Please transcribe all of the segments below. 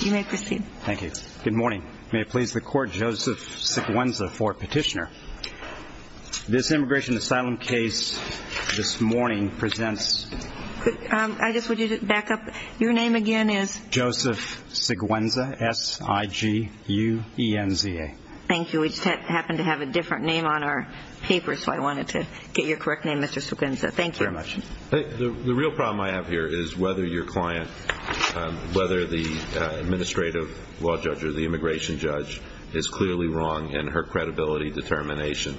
You may proceed. Thank you. Good morning. May it please the Court, Joseph Seguenza for petitioner. This immigration asylum case this morning presents... I just want you to back up. Your name again is... Joseph Seguenza, S-I-G-U-E-N-Z-A. Thank you. We just happened to have a different name on our paper, so I wanted to get your correct name, Mr. Seguenza. Thank you. Thank you very much. The real problem I have here is whether your client, whether the administrative law judge or the immigration judge, is clearly wrong in her credibility determination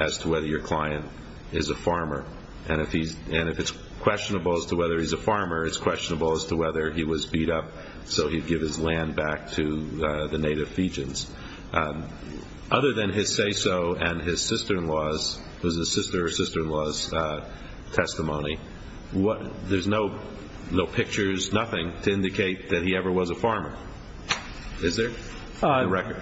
as to whether your client is a farmer. And if it's questionable as to whether he's a farmer, it's questionable as to whether he was beat up so he'd give his land back to the native Fijians. Other than his say-so and his sister-in-law's testimony, there's no pictures, nothing, to indicate that he ever was a farmer. Is there? On the record.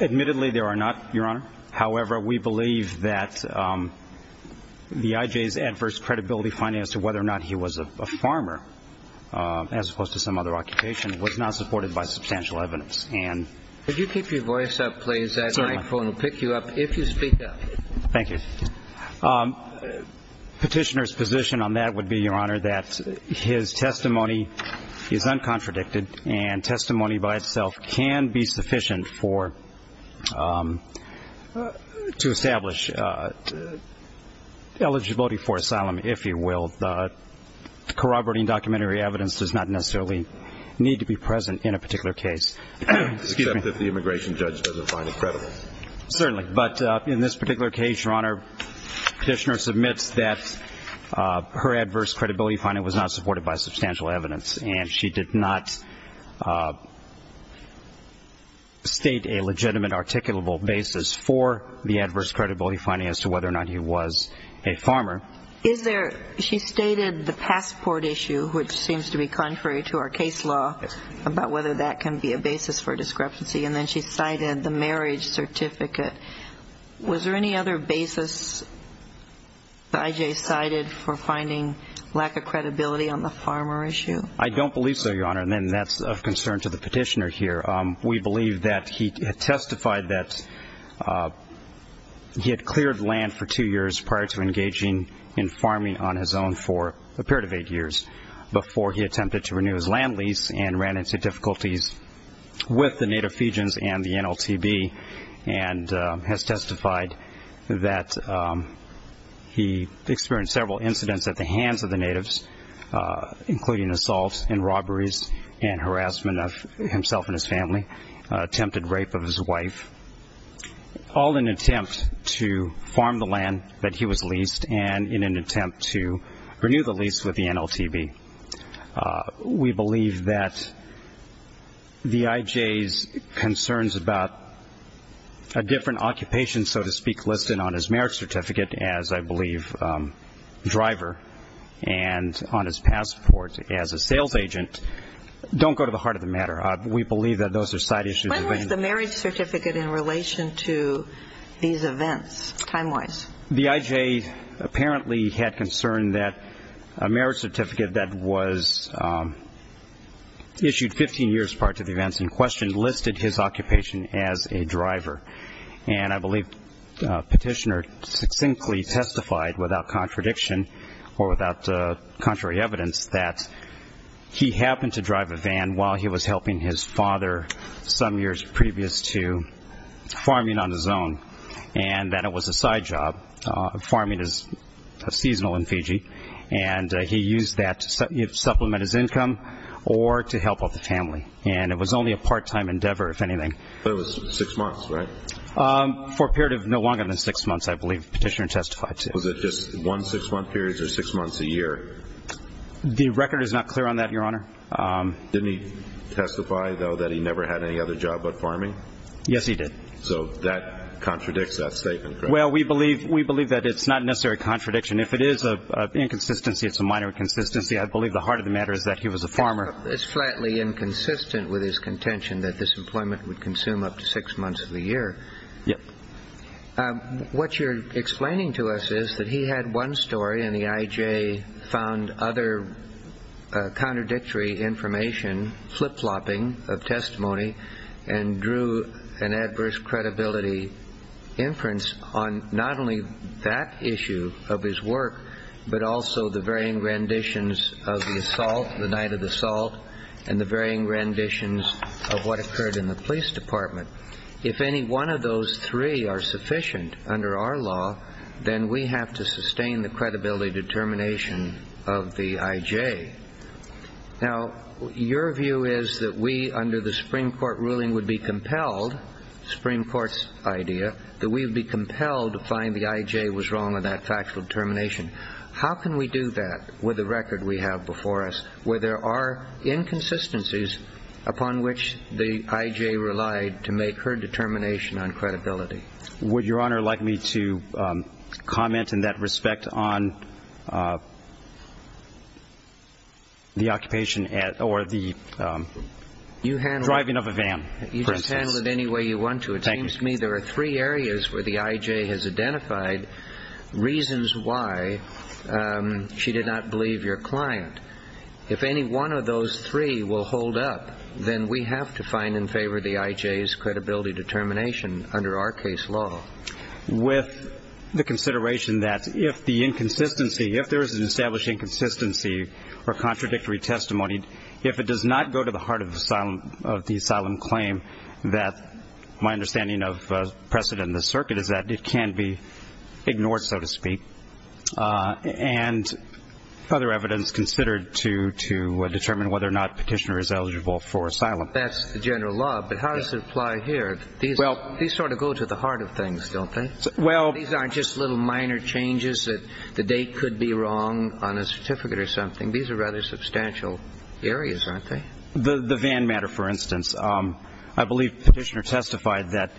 Admittedly, there are not, Your Honor. However, we believe that the IJ's adverse credibility finding as to whether or not he was a farmer, as opposed to some other occupation, was not supported by substantial evidence. Could you keep your voice up, please? That microphone will pick you up if you speak up. Thank you. Petitioner's position on that would be, Your Honor, that his testimony is uncontradicted and testimony by itself can be sufficient to establish eligibility for asylum, if you will. Corroborating documentary evidence does not necessarily need to be present in a particular case. Except if the immigration judge doesn't find it credible. Certainly. But in this particular case, Your Honor, Petitioner submits that her adverse credibility finding was not supported by substantial evidence. And she did not state a legitimate articulable basis for the adverse credibility finding as to whether or not he was a farmer. Is there? She stated the passport issue, which seems to be contrary to our case law, about whether that can be a basis for discrepancy. And then she cited the marriage certificate. Was there any other basis the IJ cited for finding lack of credibility on the farmer issue? I don't believe so, Your Honor. And that's of concern to the Petitioner here. We believe that he testified that he had cleared land for two years prior to engaging in farming on his own for a period of eight years before he attempted to renew his land lease and ran into difficulties with the native Fijians and the NLTB and has testified that he experienced several incidents at the hands of the natives, including assaults and robberies and harassment of himself and his family, attempted rape of his wife, all in an attempt to farm the land that he was leased and in an attempt to renew the lease with the NLTB. We believe that the IJ's concerns about a different occupation, so to speak, listed on his marriage certificate as, I believe, driver and on his passport as a sales agent, don't go to the heart of the matter. We believe that those are side issues. When was the marriage certificate in relation to these events, time-wise? The IJ apparently had concern that a marriage certificate that was issued 15 years prior to the events in question listed his occupation as a driver. And I believe Petitioner succinctly testified without contradiction or without contrary evidence that he happened to drive a van while he was helping his father some years previous to farming on his own and that it was a side job. Farming is seasonal in Fiji, and he used that to supplement his income or to help out the family. And it was only a part-time endeavor, if anything. So it was six months, right? For a period of no longer than six months, I believe Petitioner testified to. Was it just one six-month period or six months a year? The record is not clear on that, Your Honor. Didn't he testify, though, that he never had any other job but farming? Yes, he did. So that contradicts that statement, correct? Well, we believe that it's not necessarily a contradiction. If it is an inconsistency, it's a minor inconsistency, I believe the heart of the matter is that he was a farmer. It's flatly inconsistent with his contention that this employment would consume up to six months of the year. Yep. What you're explaining to us is that he had one story, and the IJ found other contradictory information, flip-flopping of testimony, and drew an adverse credibility inference on not only that issue of his work but also the varying renditions of the assault, the night of the assault, and the varying renditions of what occurred in the police department. If any one of those three are sufficient under our law, then we have to sustain the credibility determination of the IJ. Now, your view is that we, under the Supreme Court ruling, would be compelled, Supreme Court's idea, that we would be compelled to find the IJ was wrong on that factual determination. How can we do that with the record we have before us where there are inconsistencies upon which the IJ relied to make her determination on credibility? Would Your Honor like me to comment in that respect on the occupation or the driving of a van, for instance? You can handle it any way you want to. It seems to me there are three areas where the IJ has identified reasons why she did not believe your client. If any one of those three will hold up, then we have to find in favor of the IJ's credibility determination under our case law. With the consideration that if the inconsistency, if there is an established inconsistency or contradictory testimony, if it does not go to the heart of the asylum claim, that my understanding of precedent in the circuit is that it can be ignored, so to speak, and other evidence considered to determine whether or not Petitioner is eligible for asylum. That's the general law, but how does it apply here? These sort of go to the heart of things, don't they? These aren't just little minor changes that the date could be wrong on a certificate or something. These are rather substantial areas, aren't they? The van matter, for instance. I believe Petitioner testified that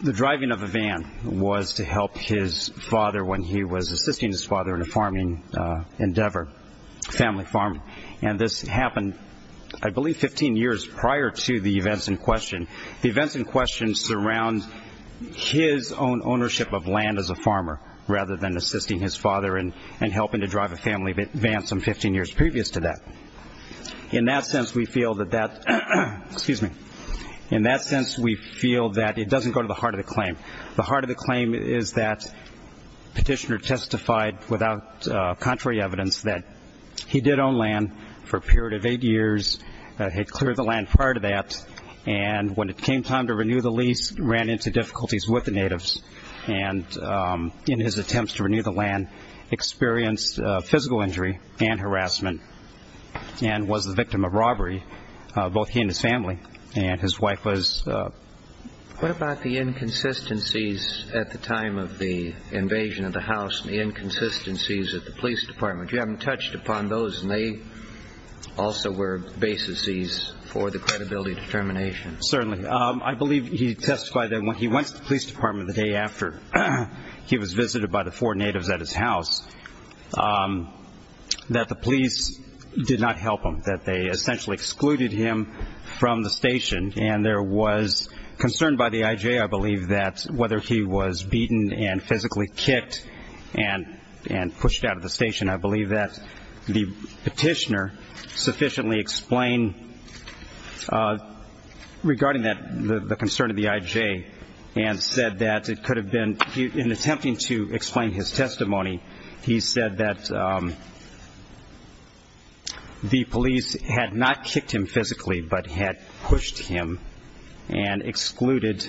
the driving of a van was to help his father when he was assisting his father in a farming endeavor, family farming. And this happened, I believe, 15 years prior to the events in question. The events in question surround his own ownership of land as a farmer rather than assisting his father in helping to drive a family van some 15 years previous to that. In that sense, we feel that it doesn't go to the heart of the claim. The heart of the claim is that Petitioner testified without contrary evidence that he did own land for a period of eight years, had cleared the land prior to that, and when it came time to renew the lease, ran into difficulties with the natives and in his attempts to renew the land, experienced physical injury and harassment and was the victim of robbery, both he and his family, and his wife was... What about the inconsistencies at the time of the invasion of the house and the inconsistencies at the police department? You haven't touched upon those, and they also were bases for the credibility determination. Certainly. I believe he testified that when he went to the police department the day after he was visited by the four natives at his house, that the police did not help him, that they essentially excluded him from the station, and there was concern by the IJ, I believe, that whether he was beaten and physically kicked and pushed out of the station. I believe that the Petitioner sufficiently explained regarding the concern of the IJ and said that it could have been, in attempting to explain his testimony, he said that the police had not kicked him physically but had pushed him and excluded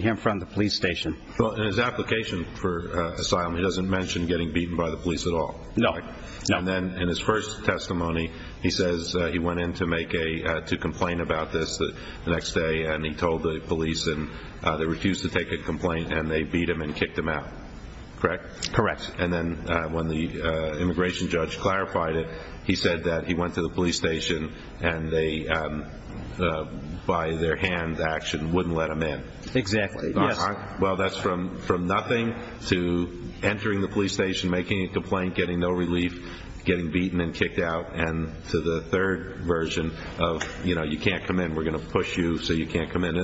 him from the police station. In his application for asylum, he doesn't mention getting beaten by the police at all. No. And then in his first testimony, he says he went in to complain about this the next day and he told the police and they refused to take a complaint and they beat him and kicked him out. Correct? Correct. And then when the immigration judge clarified it, he said that he went to the police station and they, by their hand action, wouldn't let him in. Exactly. Well, that's from nothing to entering the police station, making a complaint, getting no relief, getting beaten and kicked out, and to the third version of, you know, you can't come in, we're going to push you so you can't come in.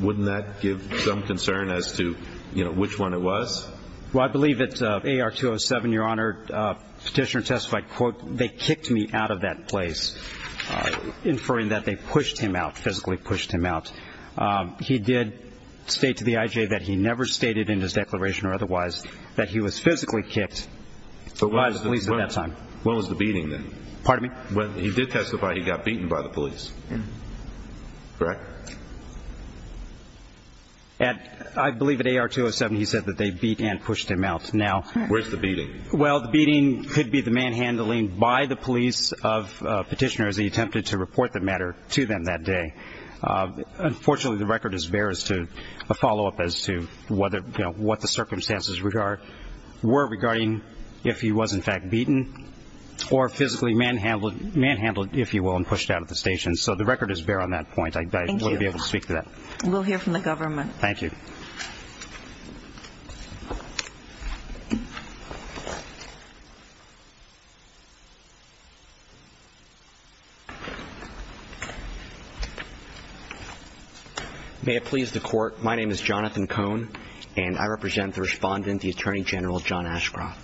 Wouldn't that give some concern as to, you know, which one it was? Well, I believe that AR-207, Your Honor, Petitioner testified, quote, they kicked me out of that place, inferring that they pushed him out, physically pushed him out. He did state to the IJ that he never stated in his declaration or otherwise that he was physically kicked by the police at that time. When was the beating then? Pardon me? He did testify he got beaten by the police. Correct? I believe at AR-207 he said that they beat and pushed him out. Where's the beating? Well, the beating could be the manhandling by the police of Petitioner because he attempted to report the matter to them that day. Unfortunately, the record is bare as to a follow-up as to whether, you know, what the circumstances were regarding if he was in fact beaten or physically manhandled, if you will, and pushed out of the station. So the record is bare on that point. Thank you. I wouldn't be able to speak to that. We'll hear from the government. Thank you. May it please the Court, my name is Jonathan Cohn, and I represent the Respondent, the Attorney General, John Ashcroft.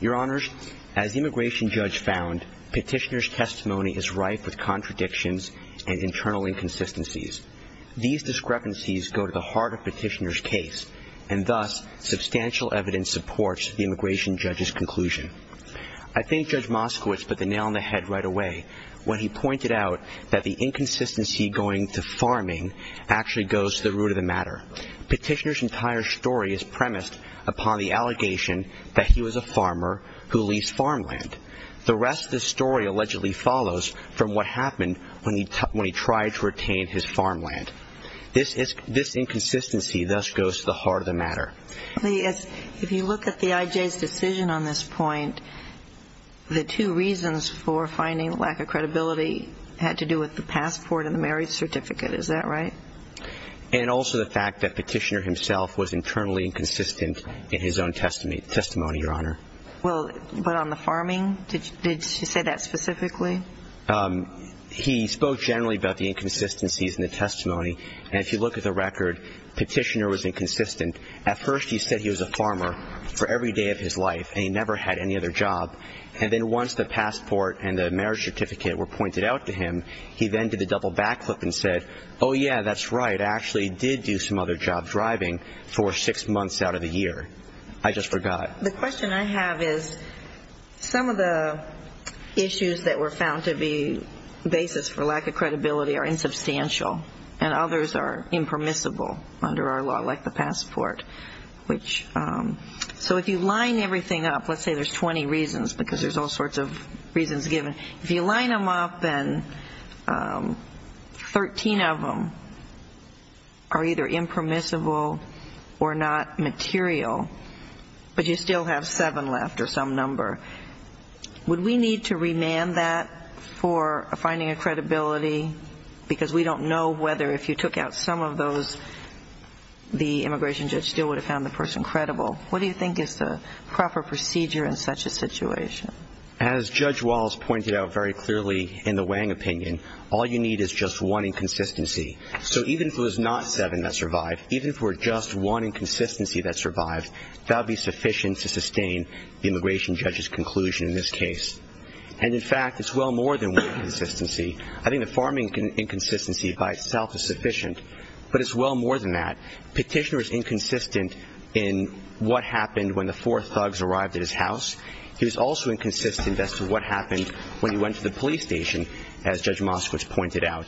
Your Honors, as the immigration judge found, Petitioner's testimony is rife with contradictions and internal inconsistencies. These discrepancies go to the heart of Petitioner's case, and thus substantial evidence supports the immigration judge's conclusion. I think Judge Moskowitz put the nail on the head right away when he pointed out that the inconsistency going to farming actually goes to the root of the matter. Petitioner's entire story is premised upon the allegation that he was a farmer who leased farmland. The rest of the story allegedly follows from what happened when he tried to retain his farmland. This inconsistency thus goes to the heart of the matter. If you look at the IJ's decision on this point, the two reasons for finding lack of credibility had to do with the passport and the marriage certificate. Is that right? And also the fact that Petitioner himself was internally inconsistent in his own testimony, Your Honor. But on the farming, did she say that specifically? He spoke generally about the inconsistencies in the testimony. And if you look at the record, Petitioner was inconsistent. At first he said he was a farmer for every day of his life and he never had any other job. And then once the passport and the marriage certificate were pointed out to him, he then did the double backflip and said, oh, yeah, that's right, I actually did do some other job driving for six months out of the year. I just forgot. The question I have is some of the issues that were found to be basis for lack of credibility are insubstantial and others are impermissible under our law, like the passport. So if you line everything up, let's say there's 20 reasons because there's all sorts of reasons given. If you line them up and 13 of them are either impermissible or not material, but you still have seven left or some number, would we need to remand that for finding a credibility? Because we don't know whether if you took out some of those, the immigration judge still would have found the person credible. What do you think is the proper procedure in such a situation? As Judge Walz pointed out very clearly in the Wang opinion, all you need is just one inconsistency. So even if it was not seven that survived, even for just one inconsistency that survived, that would be sufficient to sustain the immigration judge's conclusion in this case. And, in fact, it's well more than one inconsistency. I think the farming inconsistency by itself is sufficient, but it's well more than that. Petitioner is inconsistent in what happened when the four thugs arrived at his house. He was also inconsistent as to what happened when he went to the police station, as Judge Moskowitz pointed out.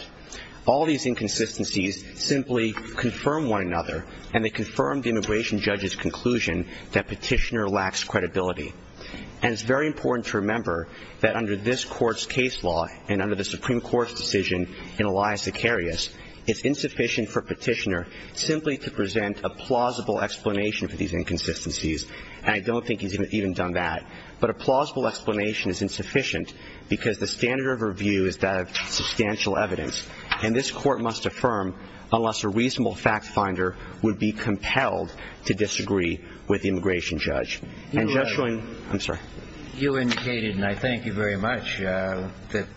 All these inconsistencies simply confirm one another, and they confirm the immigration judge's conclusion that Petitioner lacks credibility. And it's very important to remember that under this Court's case law and under the Supreme Court's decision in Elias Icarus, it's insufficient for Petitioner simply to present a plausible explanation for these inconsistencies, and I don't think he's even done that. But a plausible explanation is insufficient because the standard of review is that of substantial evidence, and this Court must affirm unless a reasonable fact finder would be compelled to disagree with the immigration judge. And, Judge Schoen, I'm sorry. You indicated, and I thank you very much, that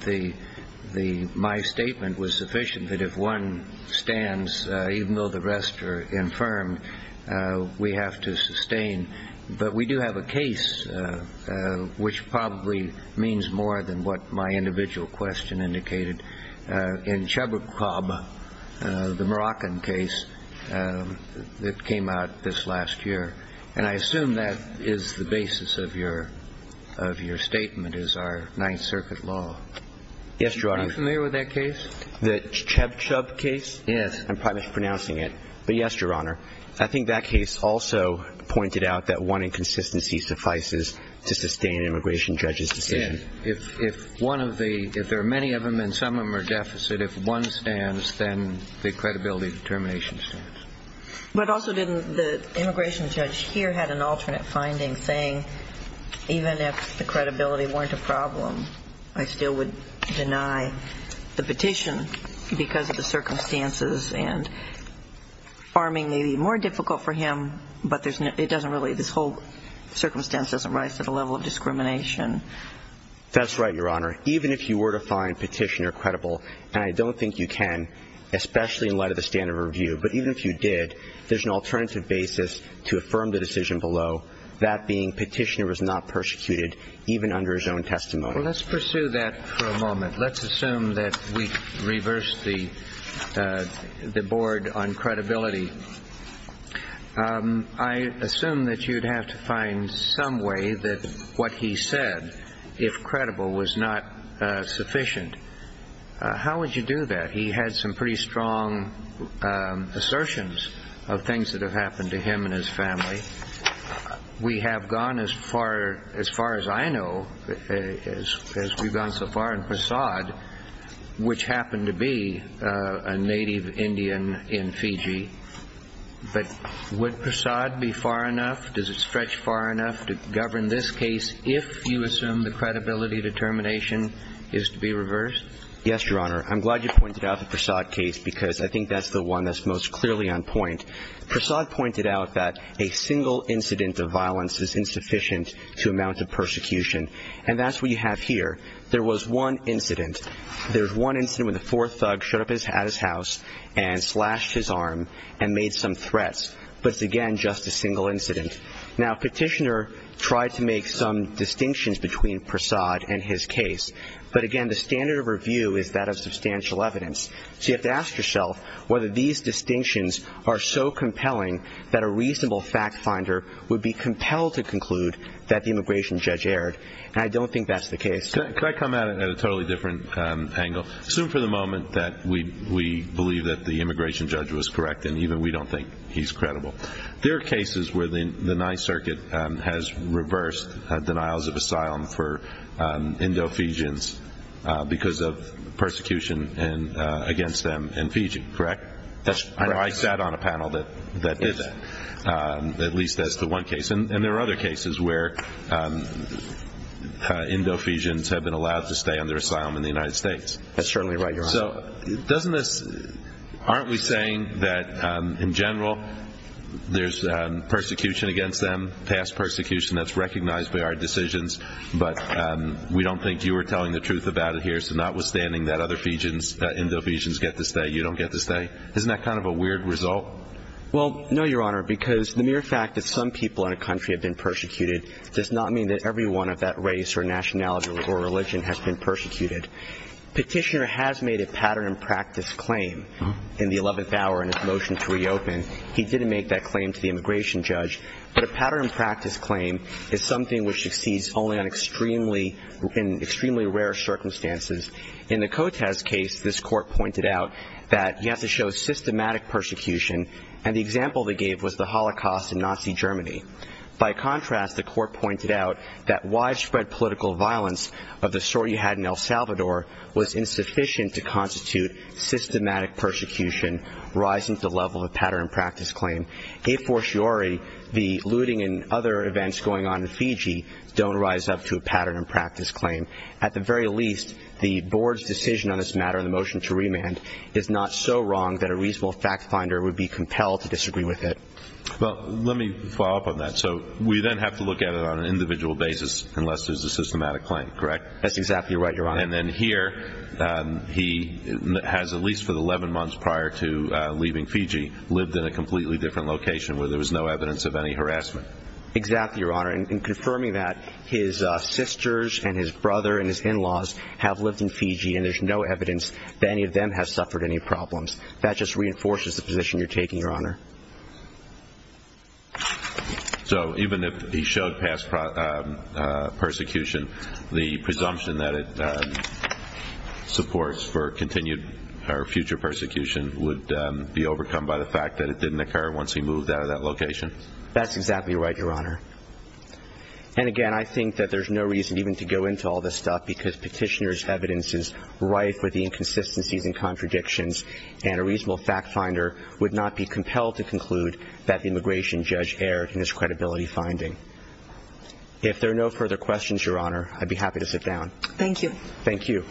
my statement was sufficient, that if one stands, even though the rest are infirm, we have to sustain. But we do have a case, which probably means more than what my individual question indicated, in Chabacab, the Moroccan case that came out this last year. And I assume that is the basis of your statement, is our Ninth Circuit law. Yes, Your Honor. Are you familiar with that case? The Chabacab case? Yes. I'm probably mispronouncing it. But yes, Your Honor. I think that case also pointed out that one inconsistency suffices to sustain an immigration judge's decision. Yes. If one of the – if there are many of them and some of them are deficit, if one stands, then the credibility determination stands. But also didn't the immigration judge here have an alternate finding saying, even if the credibility weren't a problem, I still would deny the petition because of the circumstances and farming may be more difficult for him, but it doesn't really – this whole circumstance doesn't rise to the level of discrimination. That's right, Your Honor. Even if you were to find Petitioner credible, and I don't think you can, especially in light of the standard review, but even if you did, there's an alternative basis to affirm the decision below, that being Petitioner was not persecuted even under his own testimony. Well, let's pursue that for a moment. Let's assume that we reversed the board on credibility. I assume that you'd have to find some way that what he said, if credible, was not sufficient. How would you do that? He had some pretty strong assertions of things that have happened to him and his family. We have gone as far as I know, as we've gone so far in Prasad, which happened to be a native Indian in Fiji. But would Prasad be far enough? Does it stretch far enough to govern this case if you assume the credibility determination is to be reversed? Yes, Your Honor. I'm glad you pointed out the Prasad case because I think that's the one that's most clearly on point. Prasad pointed out that a single incident of violence is insufficient to amount to persecution. And that's what you have here. There was one incident. There was one incident when the fourth thug showed up at his house and slashed his arm and made some threats. But it's, again, just a single incident. Now, Petitioner tried to make some distinctions between Prasad and his case. But, again, the standard of review is that of substantial evidence. So you have to ask yourself whether these distinctions are so compelling that a reasonable fact finder would be compelled to conclude that the immigration judge erred. And I don't think that's the case. Could I come at it at a totally different angle? Assume for the moment that we believe that the immigration judge was correct and even we don't think he's credible. There are cases where the Ninth Circuit has reversed denials of asylum for Indo-Fijians because of persecution against them in Fiji, correct? I sat on a panel that did that, at least as to one case. And there are other cases where Indo-Fijians have been allowed to stay under asylum in the United States. So aren't we saying that, in general, there's persecution against them, past persecution that's recognized by our decisions, but we don't think you were telling the truth about it here, so notwithstanding that other Fijians, Indo-Fijians, get to stay, you don't get to stay? Isn't that kind of a weird result? Well, no, Your Honor, because the mere fact that some people in a country have been persecuted does not mean that everyone of that race or nationality or religion has been persecuted. Petitioner has made a pattern and practice claim in the 11th hour in his motion to reopen. He didn't make that claim to the immigration judge. But a pattern and practice claim is something which exceeds only in extremely rare circumstances. In the Kotes case, this court pointed out that he has to show systematic persecution, and the example they gave was the Holocaust in Nazi Germany. By contrast, the court pointed out that widespread political violence of the sort you had in El Salvador was insufficient to constitute systematic persecution, rising to the level of a pattern and practice claim. A fortiori, the looting and other events going on in Fiji don't rise up to a pattern and practice claim. At the very least, the board's decision on this matter in the motion to remand is not so wrong that a reasonable fact finder would be compelled to disagree with it. Well, let me follow up on that. So we then have to look at it on an individual basis unless there's a systematic claim, correct? That's exactly right, Your Honor. And then here, he has, at least for the 11 months prior to leaving Fiji, lived in a completely different location where there was no evidence of any harassment. Exactly, Your Honor. In confirming that, his sisters and his brother and his in-laws have lived in Fiji, and there's no evidence that any of them has suffered any problems. That just reinforces the position you're taking, Your Honor. So even if he showed past persecution, the presumption that it supports for continued or future persecution would be overcome by the fact that it didn't occur once he moved out of that location? That's exactly right, Your Honor. And again, I think that there's no reason even to go into all this stuff because Petitioner's evidence is rife with the inconsistencies and contradictions, and a reasonable fact finder would not be compelled to conclude that the immigration judge erred in his credibility finding. If there are no further questions, Your Honor, I'd be happy to sit down. Thank you. Thank you.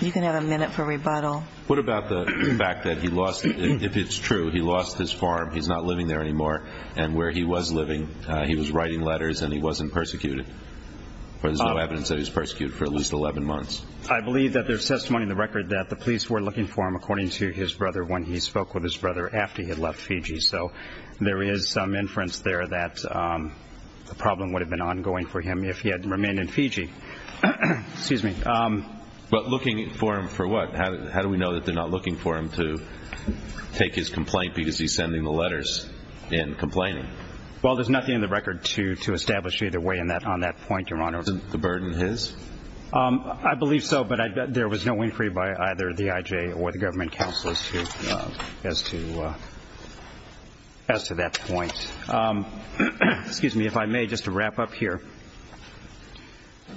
You can have a minute for rebuttal. What about the fact that he lost, if it's true, he lost his farm, he's not living there anymore, and where he was living he was writing letters and he wasn't persecuted, but there's no evidence that he was persecuted for at least 11 months? I believe that there's testimony in the record that the police were looking for him, according to his brother, when he spoke with his brother after he had left Fiji. So there is some inference there that the problem would have been ongoing for him if he had remained in Fiji. Excuse me. But looking for him for what? How do we know that they're not looking for him to take his complaint because he's sending the letters and complaining? Well, there's nothing in the record to establish either way on that point, Your Honor. Isn't the burden his? I believe so, but there was no inquiry by either the IJ or the government counsel as to that point. Excuse me, if I may, just to wrap up here.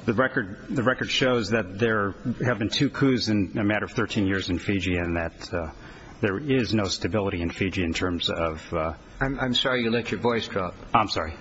The record shows that there have been two coups in a matter of 13 years in Fiji and that there is no stability in Fiji in terms of – I'm sorry you let your voice drop. I'm sorry.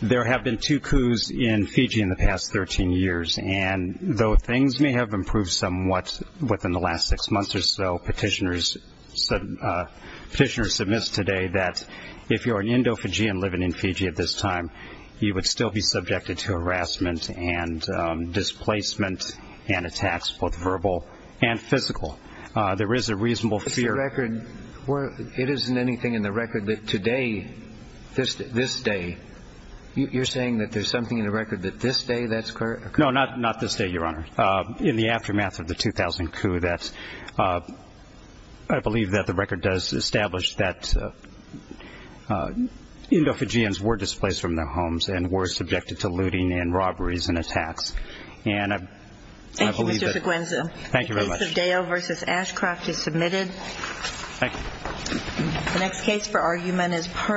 There have been two coups in Fiji in the past 13 years, and though things may have improved somewhat within the last six months or so, petitioners submissed today that if you're an Indo-Fijian living in Fiji at this time, you would still be subjected to harassment and displacement and attacks, both verbal and physical. There is a reasonable fear – But the record – it isn't anything in the record that today, this day – you're saying that there's something in the record that this day that's – No, not this day, Your Honor. In the aftermath of the 2000 coup, that's – I believe that the record does establish that Indo-Fijians were displaced from their homes and were subjected to looting and robberies and attacks. And I believe that – Thank you, Mr. Seguenza. Thank you very much. The case of Dale v. Ashcroft is submitted. Thank you. The next case for argument is Pernod.